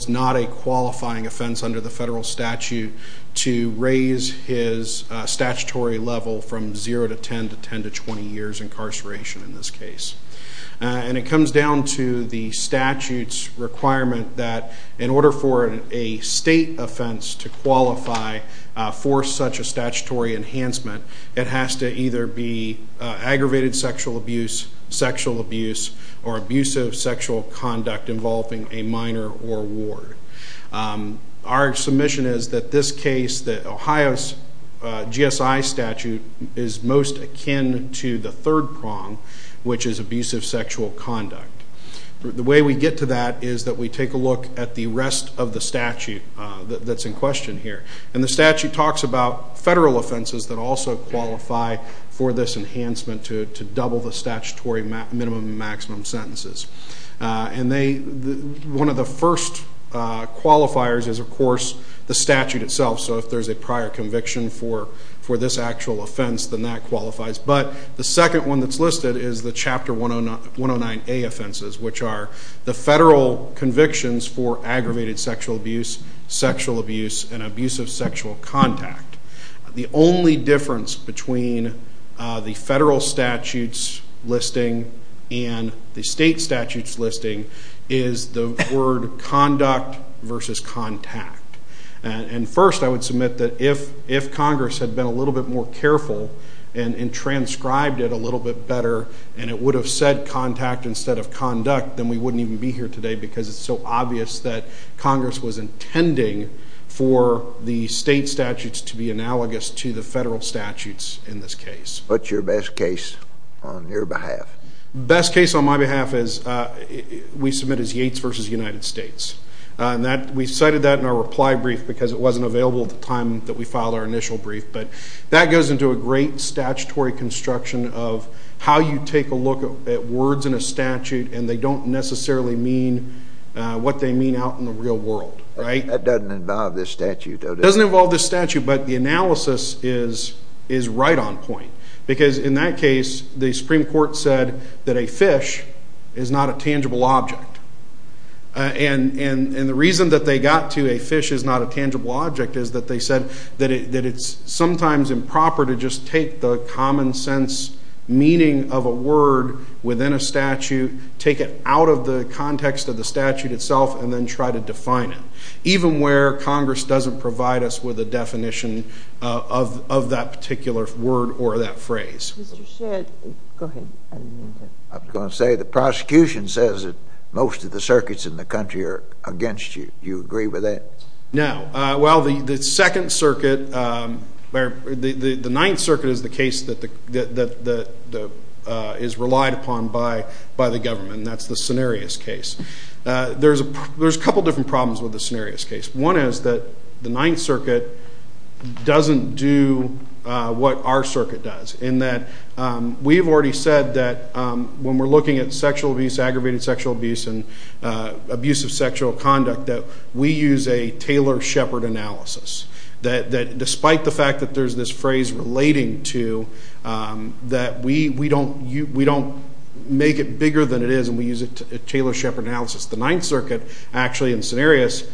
It's not a qualifying offense under the federal statute to raise his statutory level from 0 to 10 to 10 to 20 years incarceration in this case. And it comes down to the statute's requirement that in order for a state offense to qualify for such a statutory enhancement, it has to either be aggravated sexual abuse, sexual abuse, or abusive sexual conduct involving a minor or ward. Our submission is that this case, that Ohio's GSI statute, is most akin to the third prong, which is abusive sexual conduct. The way we get to that is that we take a look at the rest of the statute that's in question here. And the statute talks about federal offenses that also qualify for this enhancement to double the statutory minimum and maximum sentences. And one of the first qualifiers is, of course, the statute itself. So if there's a prior conviction for this actual offense, then that qualifies. But the second one that's listed is the Chapter 109A offenses, which are the federal convictions for aggravated sexual abuse, sexual abuse, and abusive sexual contact. The only difference between the federal statute's listing and the state statute's listing is the word conduct versus contact. And first, I would submit that if Congress had been a little bit more careful and transcribed it a little bit better and it would have said contact instead of conduct, then we wouldn't even be here today because it's so obvious that Congress was intending for the state statutes to be analogous to the federal statutes in this case. What's your best case on your behalf? Best case on my behalf is we submit as Yates v. United States. We cited that in our reply brief because it wasn't available at the time that we filed our initial brief. But that goes into a great statutory construction of how you take a look at words in a statute and they don't necessarily mean what they mean out in the real world, right? That doesn't involve this statute, though, does it? It doesn't involve this statute, but the analysis is right on point because in that case, the Supreme Court said that a fish is not a tangible object. And the reason that they got to a fish is not a tangible object is that they said that it's sometimes improper to just take the common sense meaning of a word within a statute, take it out of the context of the statute itself, and then try to define it, even where Congress doesn't provide us with a definition of that particular word or that phrase. Mr. Shedd, go ahead. I was going to say the prosecution says that most of the circuits in the country are against you. Do you agree with that? No. Well, the Second Circuit, the Ninth Circuit is the case that is relied upon by the government, and that's the Cenarius case. There's a couple of different problems with the Cenarius case. One is that the Ninth Circuit doesn't do what our circuit does in that we have already said that when we're looking at sexual abuse, aggravated sexual abuse, and abusive sexual conduct, that we use a Taylor-Shepard analysis, that despite the fact that there's this phrase relating to that we don't make it bigger than it is and we use a Taylor-Shepard analysis. The Ninth Circuit actually in Cenarius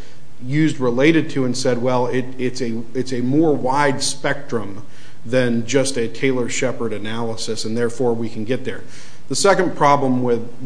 used related to and said, well, it's a more wide spectrum than just a Taylor-Shepard analysis, and therefore we can get there. The second problem with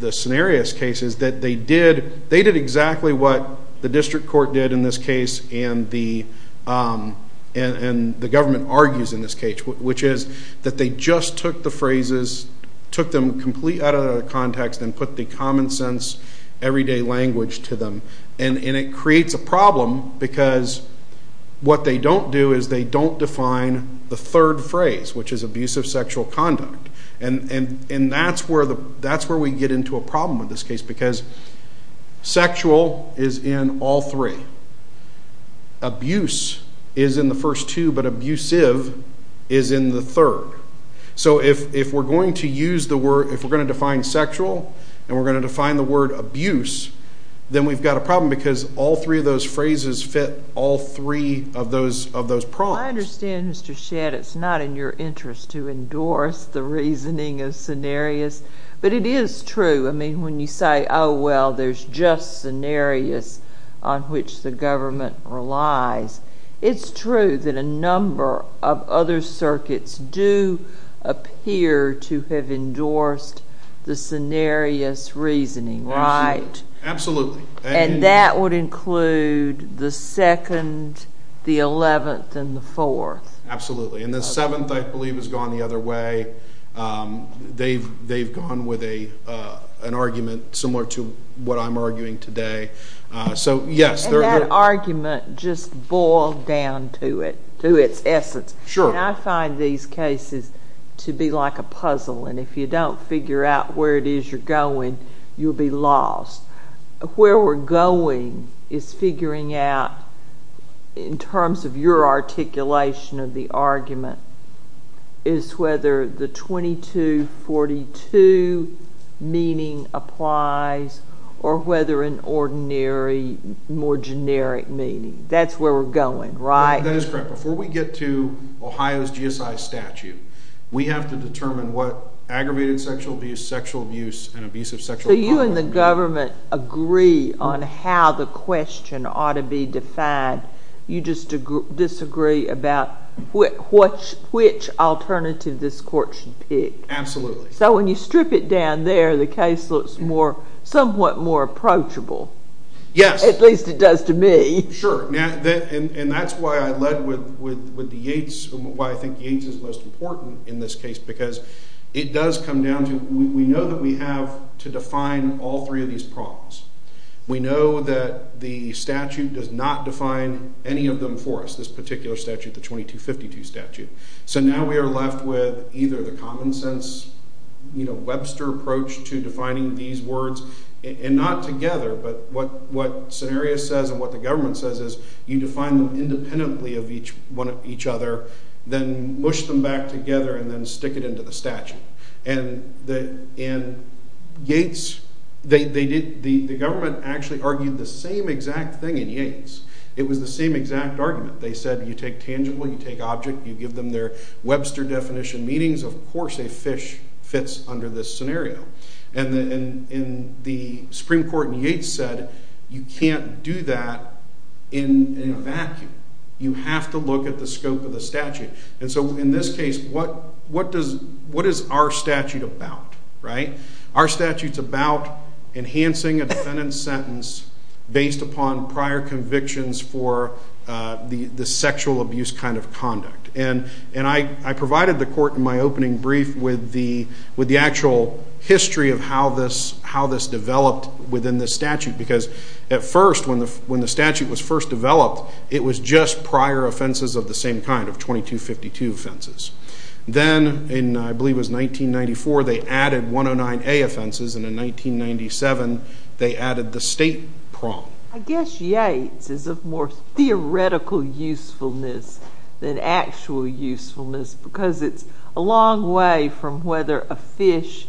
the Cenarius case is that they did exactly what the district court did in this case and the government argues in this case, which is that they just took the phrases, took them completely out of the context and put the common sense, everyday language to them. And it creates a problem because what they don't do is they don't define the third phrase, which is abusive sexual conduct. And that's where we get into a problem with this case because sexual is in all three. Abuse is in the first two, but abusive is in the third. So if we're going to use the word, if we're going to define sexual and we're going to define the word abuse, then we've got a problem because all three of those phrases fit all three of those prongs. I understand, Mr. Shedd, it's not in your interest to endorse the reasoning of Cenarius, but it is true. I mean, when you say, oh, well, there's just Cenarius on which the government relies, it's true that a number of other circuits do appear to have endorsed the Cenarius reasoning, right? Absolutely. And that would include the second, the eleventh, and the fourth. Absolutely. And the seventh, I believe, has gone the other way. They've gone with an argument similar to what I'm arguing today. And that argument just boiled down to it, to its essence. And I find these cases to be like a puzzle, and if you don't figure out where it is you're going, you'll be lost. Where we're going is figuring out, in terms of your articulation of the argument, is whether the 2242 meaning applies or whether an ordinary, more generic meaning. That's where we're going, right? That is correct. Before we get to Ohio's GSI statute, we have to determine what aggravated sexual abuse, sexual abuse, and abusive sexual conduct. So you and the government agree on how the question ought to be defined. You just disagree about which alternative this court should pick. Absolutely. So when you strip it down there, the case looks somewhat more approachable. Yes. At least it does to me. Sure. And that's why I led with the Yates, why I think Yates is most important in this case, because it does come down to, we know that we have to define all three of these problems. We know that the statute does not define any of them for us, this particular statute, the 2252 statute. So now we are left with either the common sense, Webster approach to defining these words, and not together, but what Cenarius says and what the government says is you define them independently of each other, then mush them back together and then stick it into the statute. And Yates, the government actually argued the same exact thing in Yates. It was the same exact argument. They said you take tangible, you take object, you give them their Webster definition meanings, of course a fish fits under this scenario. And the Supreme Court in Yates said you can't do that in a vacuum. You have to look at the scope of the statute. And so in this case, what is our statute about, right? Our statute is about enhancing a defendant's sentence based upon prior convictions for the sexual abuse kind of conduct. And I provided the court in my opening brief with the actual history of how this developed within the statute, because at first, when the statute was first developed, it was just prior offenses of the same kind, of 2252 offenses. Then in, I believe it was 1994, they added 109A offenses, and in 1997, they added the state prong. I guess Yates is of more theoretical usefulness than actual usefulness, because it's a long way from whether a fish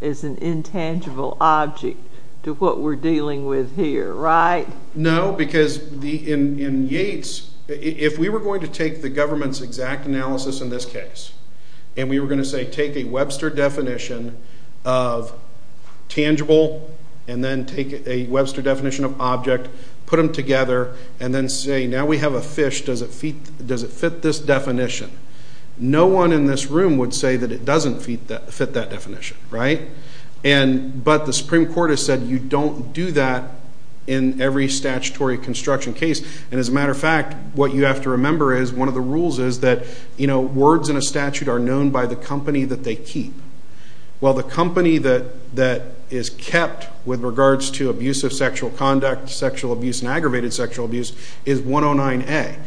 is an intangible object to what we're dealing with here, right? No, because in Yates, if we were going to take the government's exact analysis in this case, and we were going to say take a Webster definition of tangible and then take a Webster definition of object, put them together, and then say, now we have a fish, does it fit this definition? No one in this room would say that it doesn't fit that definition, right? But the Supreme Court has said you don't do that in every statutory construction case. And as a matter of fact, what you have to remember is one of the rules is that, you know, words in a statute are known by the company that they keep. Well, the company that is kept with regards to abusive sexual conduct, sexual abuse, and aggravated sexual abuse is 109A.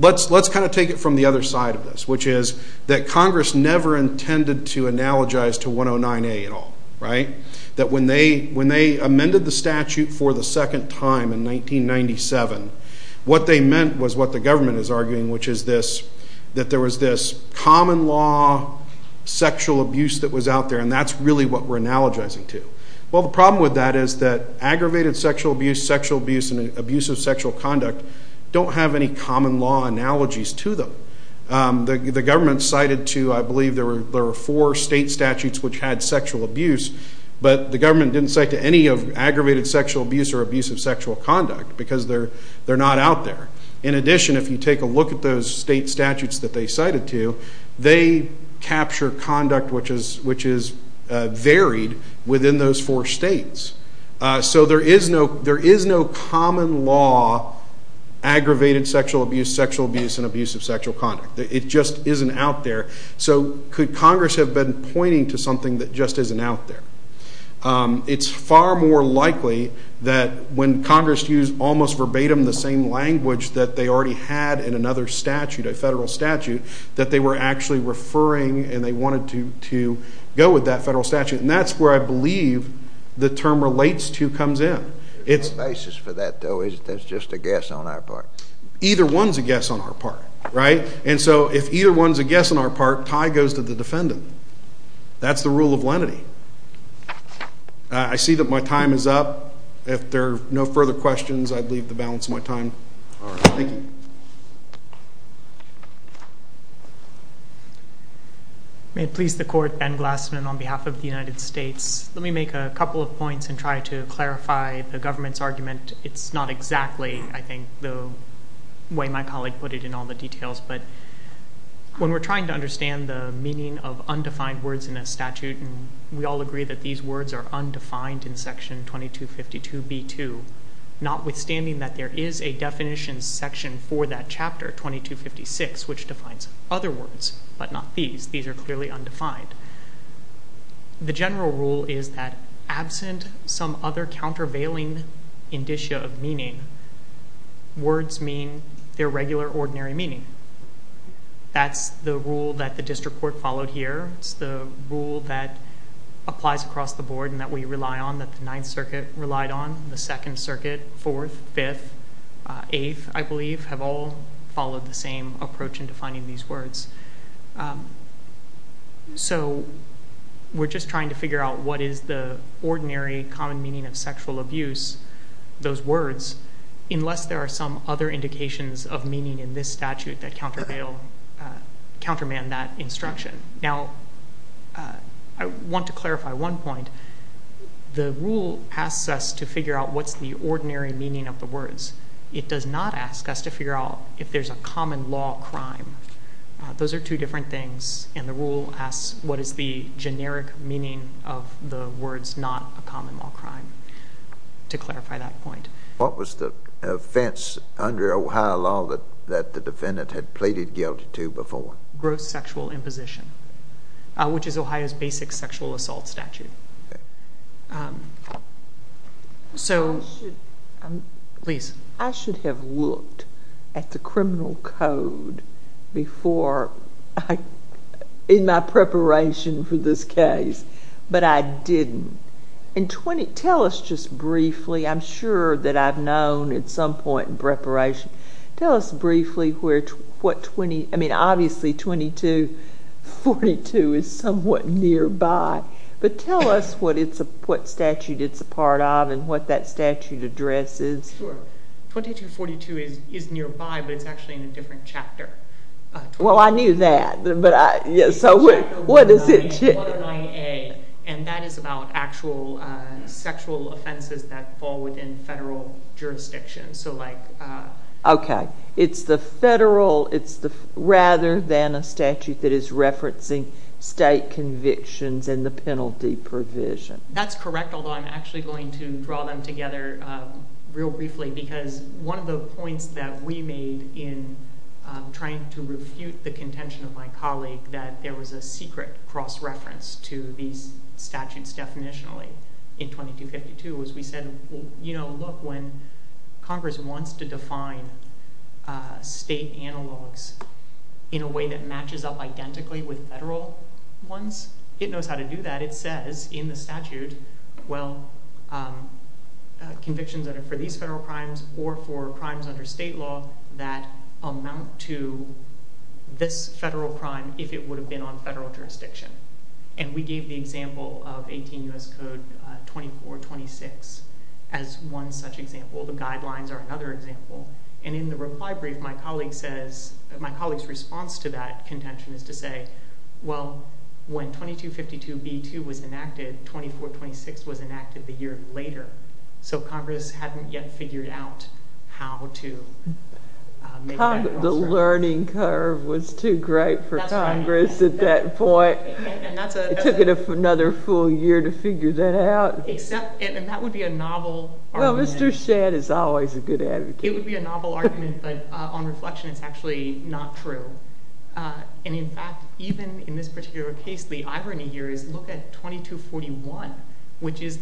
Let's kind of take it from the other side of this, which is that Congress never intended to analogize to 109A at all, right? That when they amended the statute for the second time in 1997, what they meant was what the government is arguing, which is this, that there was this common law sexual abuse that was out there, and that's really what we're analogizing to. Well, the problem with that is that aggravated sexual abuse, sexual abuse, and abusive sexual conduct don't have any common law analogies to them. The government cited to, I believe, there were four state statutes which had sexual abuse, but the government didn't cite to any of aggravated sexual abuse or abusive sexual conduct because they're not out there. In addition, if you take a look at those state statutes that they cited to, they capture conduct which is varied within those four states. So there is no common law aggravated sexual abuse, sexual abuse, and abusive sexual conduct. It just isn't out there. So could Congress have been pointing to something that just isn't out there? It's far more likely that when Congress used almost verbatim the same language that they already had in another statute, a federal statute, that they were actually referring and they wanted to go with that federal statute, and that's where I believe the term relates to comes in. The basis for that, though, is that it's just a guess on our part. Either one's a guess on our part, right? And so if either one's a guess on our part, tie goes to the defendant. That's the rule of lenity. I see that my time is up. If there are no further questions, I'd leave the balance of my time. Thank you. May it please the Court, Ben Glassman on behalf of the United States. Let me make a couple of points and try to clarify the government's argument. It's not exactly, I think, the way my colleague put it in all the details, but when we're trying to understand the meaning of undefined words in a statute, and we all agree that these words are undefined in Section 2252b-2, notwithstanding that there is a definition section for that chapter, 2256, which defines other words, but not these. These are clearly undefined. The general rule is that absent some other countervailing indicia of meaning, words mean their regular, ordinary meaning. That's the rule that the district court followed here. It's the rule that applies across the board and that we rely on, that the Ninth Circuit relied on. The Second Circuit, Fourth, Fifth, Eighth, I believe, have all followed the same approach in defining these words. So we're just trying to figure out what is the ordinary, common meaning of sexual abuse, those words, unless there are some other indications of meaning in this statute that counterman that instruction. Now, I want to clarify one point. The rule asks us to figure out what's the ordinary meaning of the words. It does not ask us to figure out if there's a common law crime. Those are two different things, and the rule asks what is the generic meaning of the words, not a common law crime, to clarify that point. What was the offense under Ohio law that the defendant had pleaded guilty to before? Gross sexual imposition, which is Ohio's basic sexual assault statute. So, please. I should have looked at the criminal code before, in my preparation for this case, but I didn't. Tell us just briefly, I'm sure that I've known at some point in preparation, tell us briefly where, I mean, obviously 2242 is somewhat nearby, but tell us what statute it's a part of and what that statute addresses. Sure. 2242 is nearby, but it's actually in a different chapter. Well, I knew that, so what is it? And that is about actual sexual offenses that fall within federal jurisdictions. Okay. It's the federal, rather than a statute that is referencing state convictions and the penalty provision. That's correct, although I'm actually going to draw them together real briefly, because one of the points that we made in trying to refute the contention of my colleague that there was a secret cross-reference to these statutes definitionally in 2252 was we said, you know, look, when Congress wants to define state analogs in a way that matches up identically with federal ones, it knows how to do that. It says in the statute, well, convictions that are for these federal crimes or for crimes under state law that amount to this federal crime if it would have been on federal jurisdiction. And we gave the example of 18 U.S. Code 2426 as one such example. The guidelines are another example. And in the reply brief, my colleague says, my colleague's response to that contention is to say, well, when 2252b2 was enacted, 2426 was enacted a year later, so Congress hadn't yet figured out how to make that cross-reference. That learning curve was too great for Congress at that point. It took another full year to figure that out. And that would be a novel argument. Well, Mr. Shadd is always a good advocate. It would be a novel argument, but on reflection, it's actually not true. And, in fact, even in this particular case, the irony here is look at 2241, which is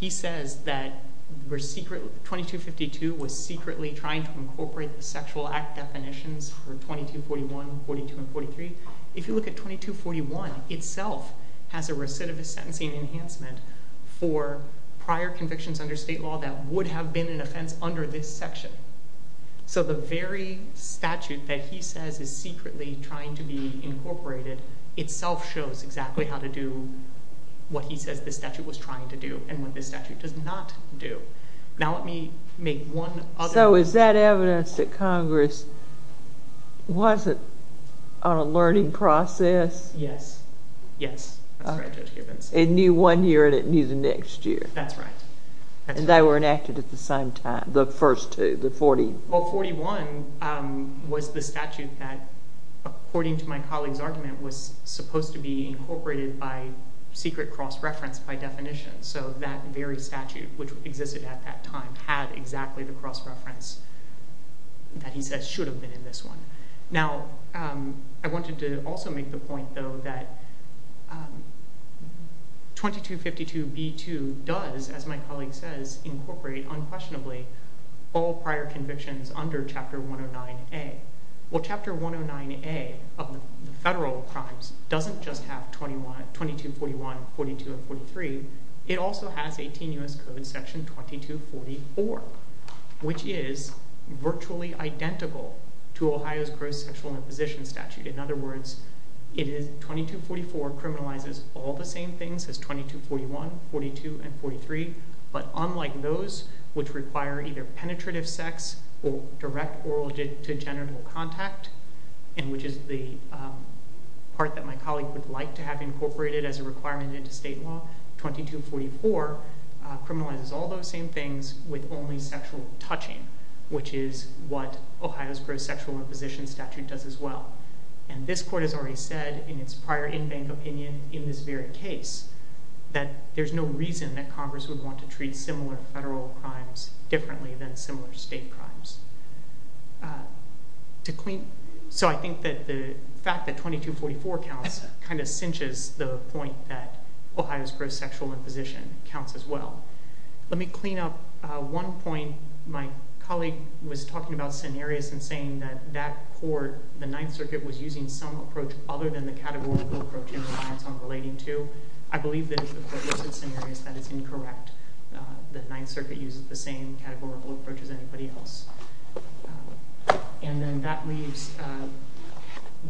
he says that 2252 was secretly trying to incorporate the sexual act definitions for 2241, 42, and 43. If you look at 2241 itself, it has a recidivist sentencing enhancement for prior convictions under state law that would have been an offense under this section. So the very statute that he says is secretly trying to be incorporated itself shows exactly how to do what he says this statute was trying to do and what this statute does not do. Now let me make one other point. So is that evidence that Congress wasn't on a learning process? Yes. Yes. That's right, Judge Gibbons. It knew one year and it knew the next year. That's right. And they were enacted at the same time, the first two, the 41. The 41 was the statute that, according to my colleague's argument, was supposed to be incorporated by secret cross-reference by definition. So that very statute, which existed at that time, had exactly the cross-reference that he says should have been in this one. Now I wanted to also make the point, though, that 2252b2 does, as my colleague says, incorporate unquestionably all prior convictions under Chapter 109A. Well, Chapter 109A of the federal crimes doesn't just have 2241, 42, and 43. It also has 18 U.S. Code Section 2244, which is virtually identical to Ohio's gross sexual imposition statute. In other words, 2244 criminalizes all the same things as 2241, 42, and 43, but unlike those which require either penetrative sex or direct oral to genital contact, which is the part that my colleague would like to have incorporated as a requirement into state law, 2244 criminalizes all those same things with only sexual touching, which is what Ohio's gross sexual imposition statute does as well. And this court has already said in its prior in-bank opinion in this very case that there's no reason that Congress would want to treat similar federal crimes differently than similar state crimes. So I think that the fact that 2244 counts kind of cinches the point that Ohio's gross sexual imposition counts as well. Let me clean up one point. My colleague was talking about scenarios and saying that that court, the Ninth Circuit, was using some approach other than the categorical approach it relies on relating to. I believe that if the court looks at scenarios, that is incorrect, that the Ninth Circuit uses the same categorical approach as anybody else. And then that leaves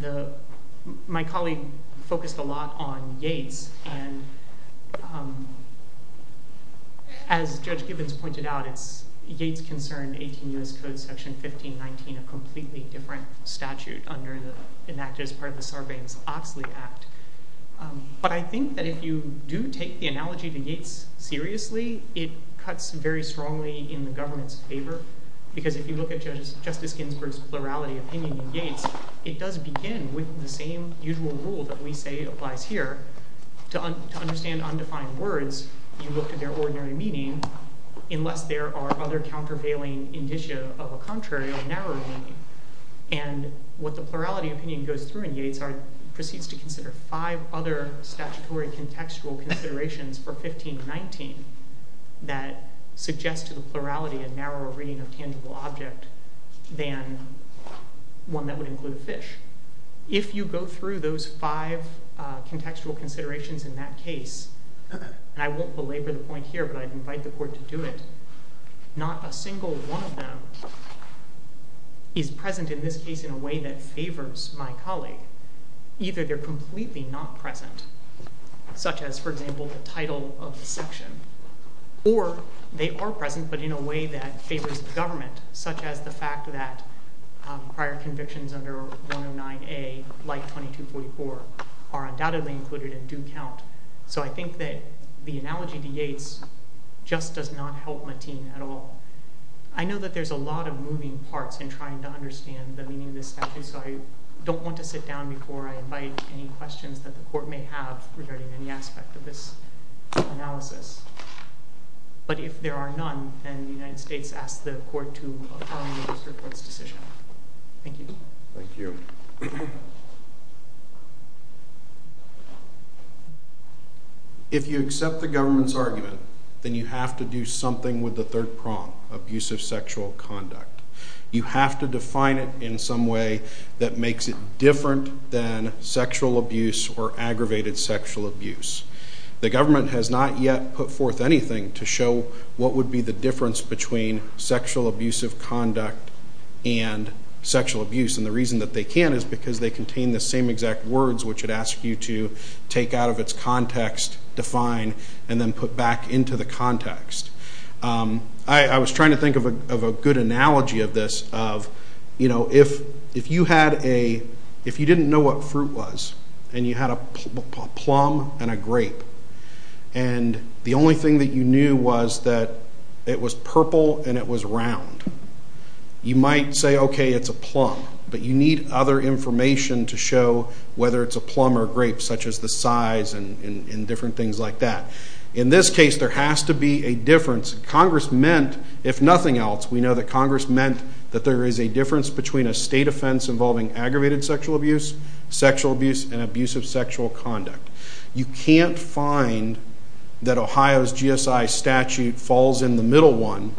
the—my colleague focused a lot on Yates, and as Judge Gibbons pointed out, it's Yates' concern, 18 U.S. Code Section 1519, being a completely different statute under an act as part of the Sarbanes-Oxley Act. But I think that if you do take the analogy to Yates seriously, it cuts very strongly in the government's favor, because if you look at Justice Ginsburg's plurality opinion in Yates, it does begin with the same usual rule that we say applies here. To understand undefined words, you look at their ordinary meaning, unless there are other countervailing indicia of a contrary or narrow meaning. And what the plurality opinion goes through in Yates proceeds to consider five other statutory contextual considerations for 1519 that suggest to the plurality a narrower reading of tangible object than one that would include a fish. If you go through those five contextual considerations in that case, and I won't belabor the point here, but I'd invite the court to do it, not a single one of them is present in this case in a way that favors my colleague. Either they're completely not present, such as, for example, the title of the section, or they are present but in a way that favors the government, such as the fact that prior convictions under 109A, like 2244, are undoubtedly included and do count. So I think that the analogy of Yates just does not help Mateen at all. I know that there's a lot of moving parts in trying to understand the meaning of this statute, so I don't want to sit down before I invite any questions that the court may have regarding any aspect of this analysis. But if there are none, then the United States asks the court to affirm the district court's decision. Thank you. Thank you. If you accept the government's argument, then you have to do something with the third prompt, abusive sexual conduct. You have to define it in some way that makes it different than sexual abuse or aggravated sexual abuse. The government has not yet put forth anything to show what would be the difference between sexual abusive conduct and sexual abuse. And the reason that they can't is because they contain the same exact words, which it asks you to take out of its context, define, and then put back into the context. I was trying to think of a good analogy of this, of, you know, if you didn't know what fruit was and you had a plum and a grape, and the only thing that you knew was that it was purple and it was round. You might say, okay, it's a plum, but you need other information to show whether it's a plum or a grape, such as the size and different things like that. In this case, there has to be a difference. Congress meant, if nothing else, we know that Congress meant that there is a difference between a state offense involving aggravated sexual abuse, sexual abuse, and abusive sexual conduct. You can't find that Ohio's GSI statute falls in the middle one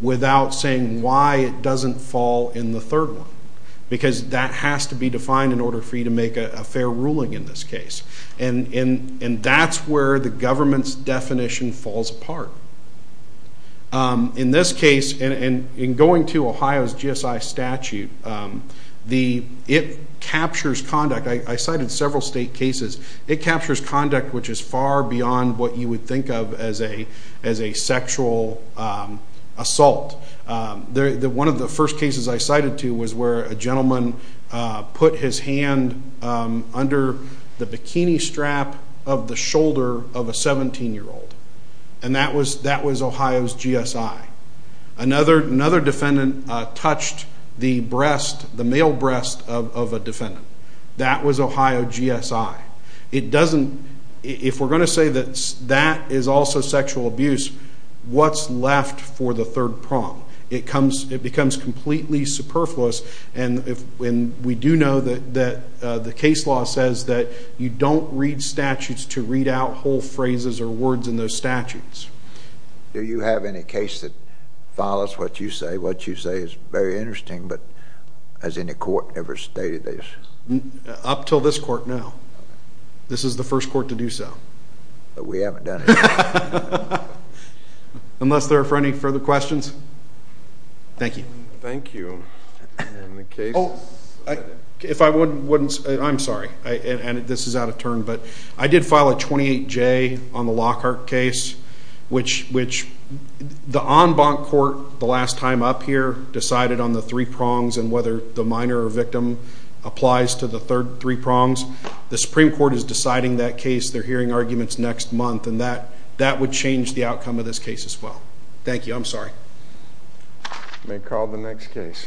without saying why it doesn't fall in the third one, because that has to be defined in order for you to make a fair ruling in this case. And that's where the government's definition falls apart. In this case, and in going to Ohio's GSI statute, it captures conduct. I cited several state cases. It captures conduct which is far beyond what you would think of as a sexual assault. One of the first cases I cited to was where a gentleman put his hand under the bikini strap of the shoulder of a 17-year-old, and that was Ohio's GSI. Another defendant touched the breast, the male breast of a defendant. That was Ohio's GSI. If we're going to say that that is also sexual abuse, what's left for the third prong? It becomes completely superfluous, and we do know that the case law says that you don't read statutes to read out whole phrases or words in those statutes. Do you have any case that follows what you say? What you say is very interesting, but has any court ever stated this? Up till this court, no. This is the first court to do so. But we haven't done it yet. Unless there are any further questions. Thank you. Thank you. If I wouldn't, I'm sorry. This is out of turn, but I did file a 28-J on the Lockhart case, which the en banc court the last time up here decided on the three prongs and whether the minor or victim applies to the third three prongs. The Supreme Court is deciding that case. They're hearing arguments next month, and that would change the outcome of this case as well. Thank you. I'm sorry. You may call the next case.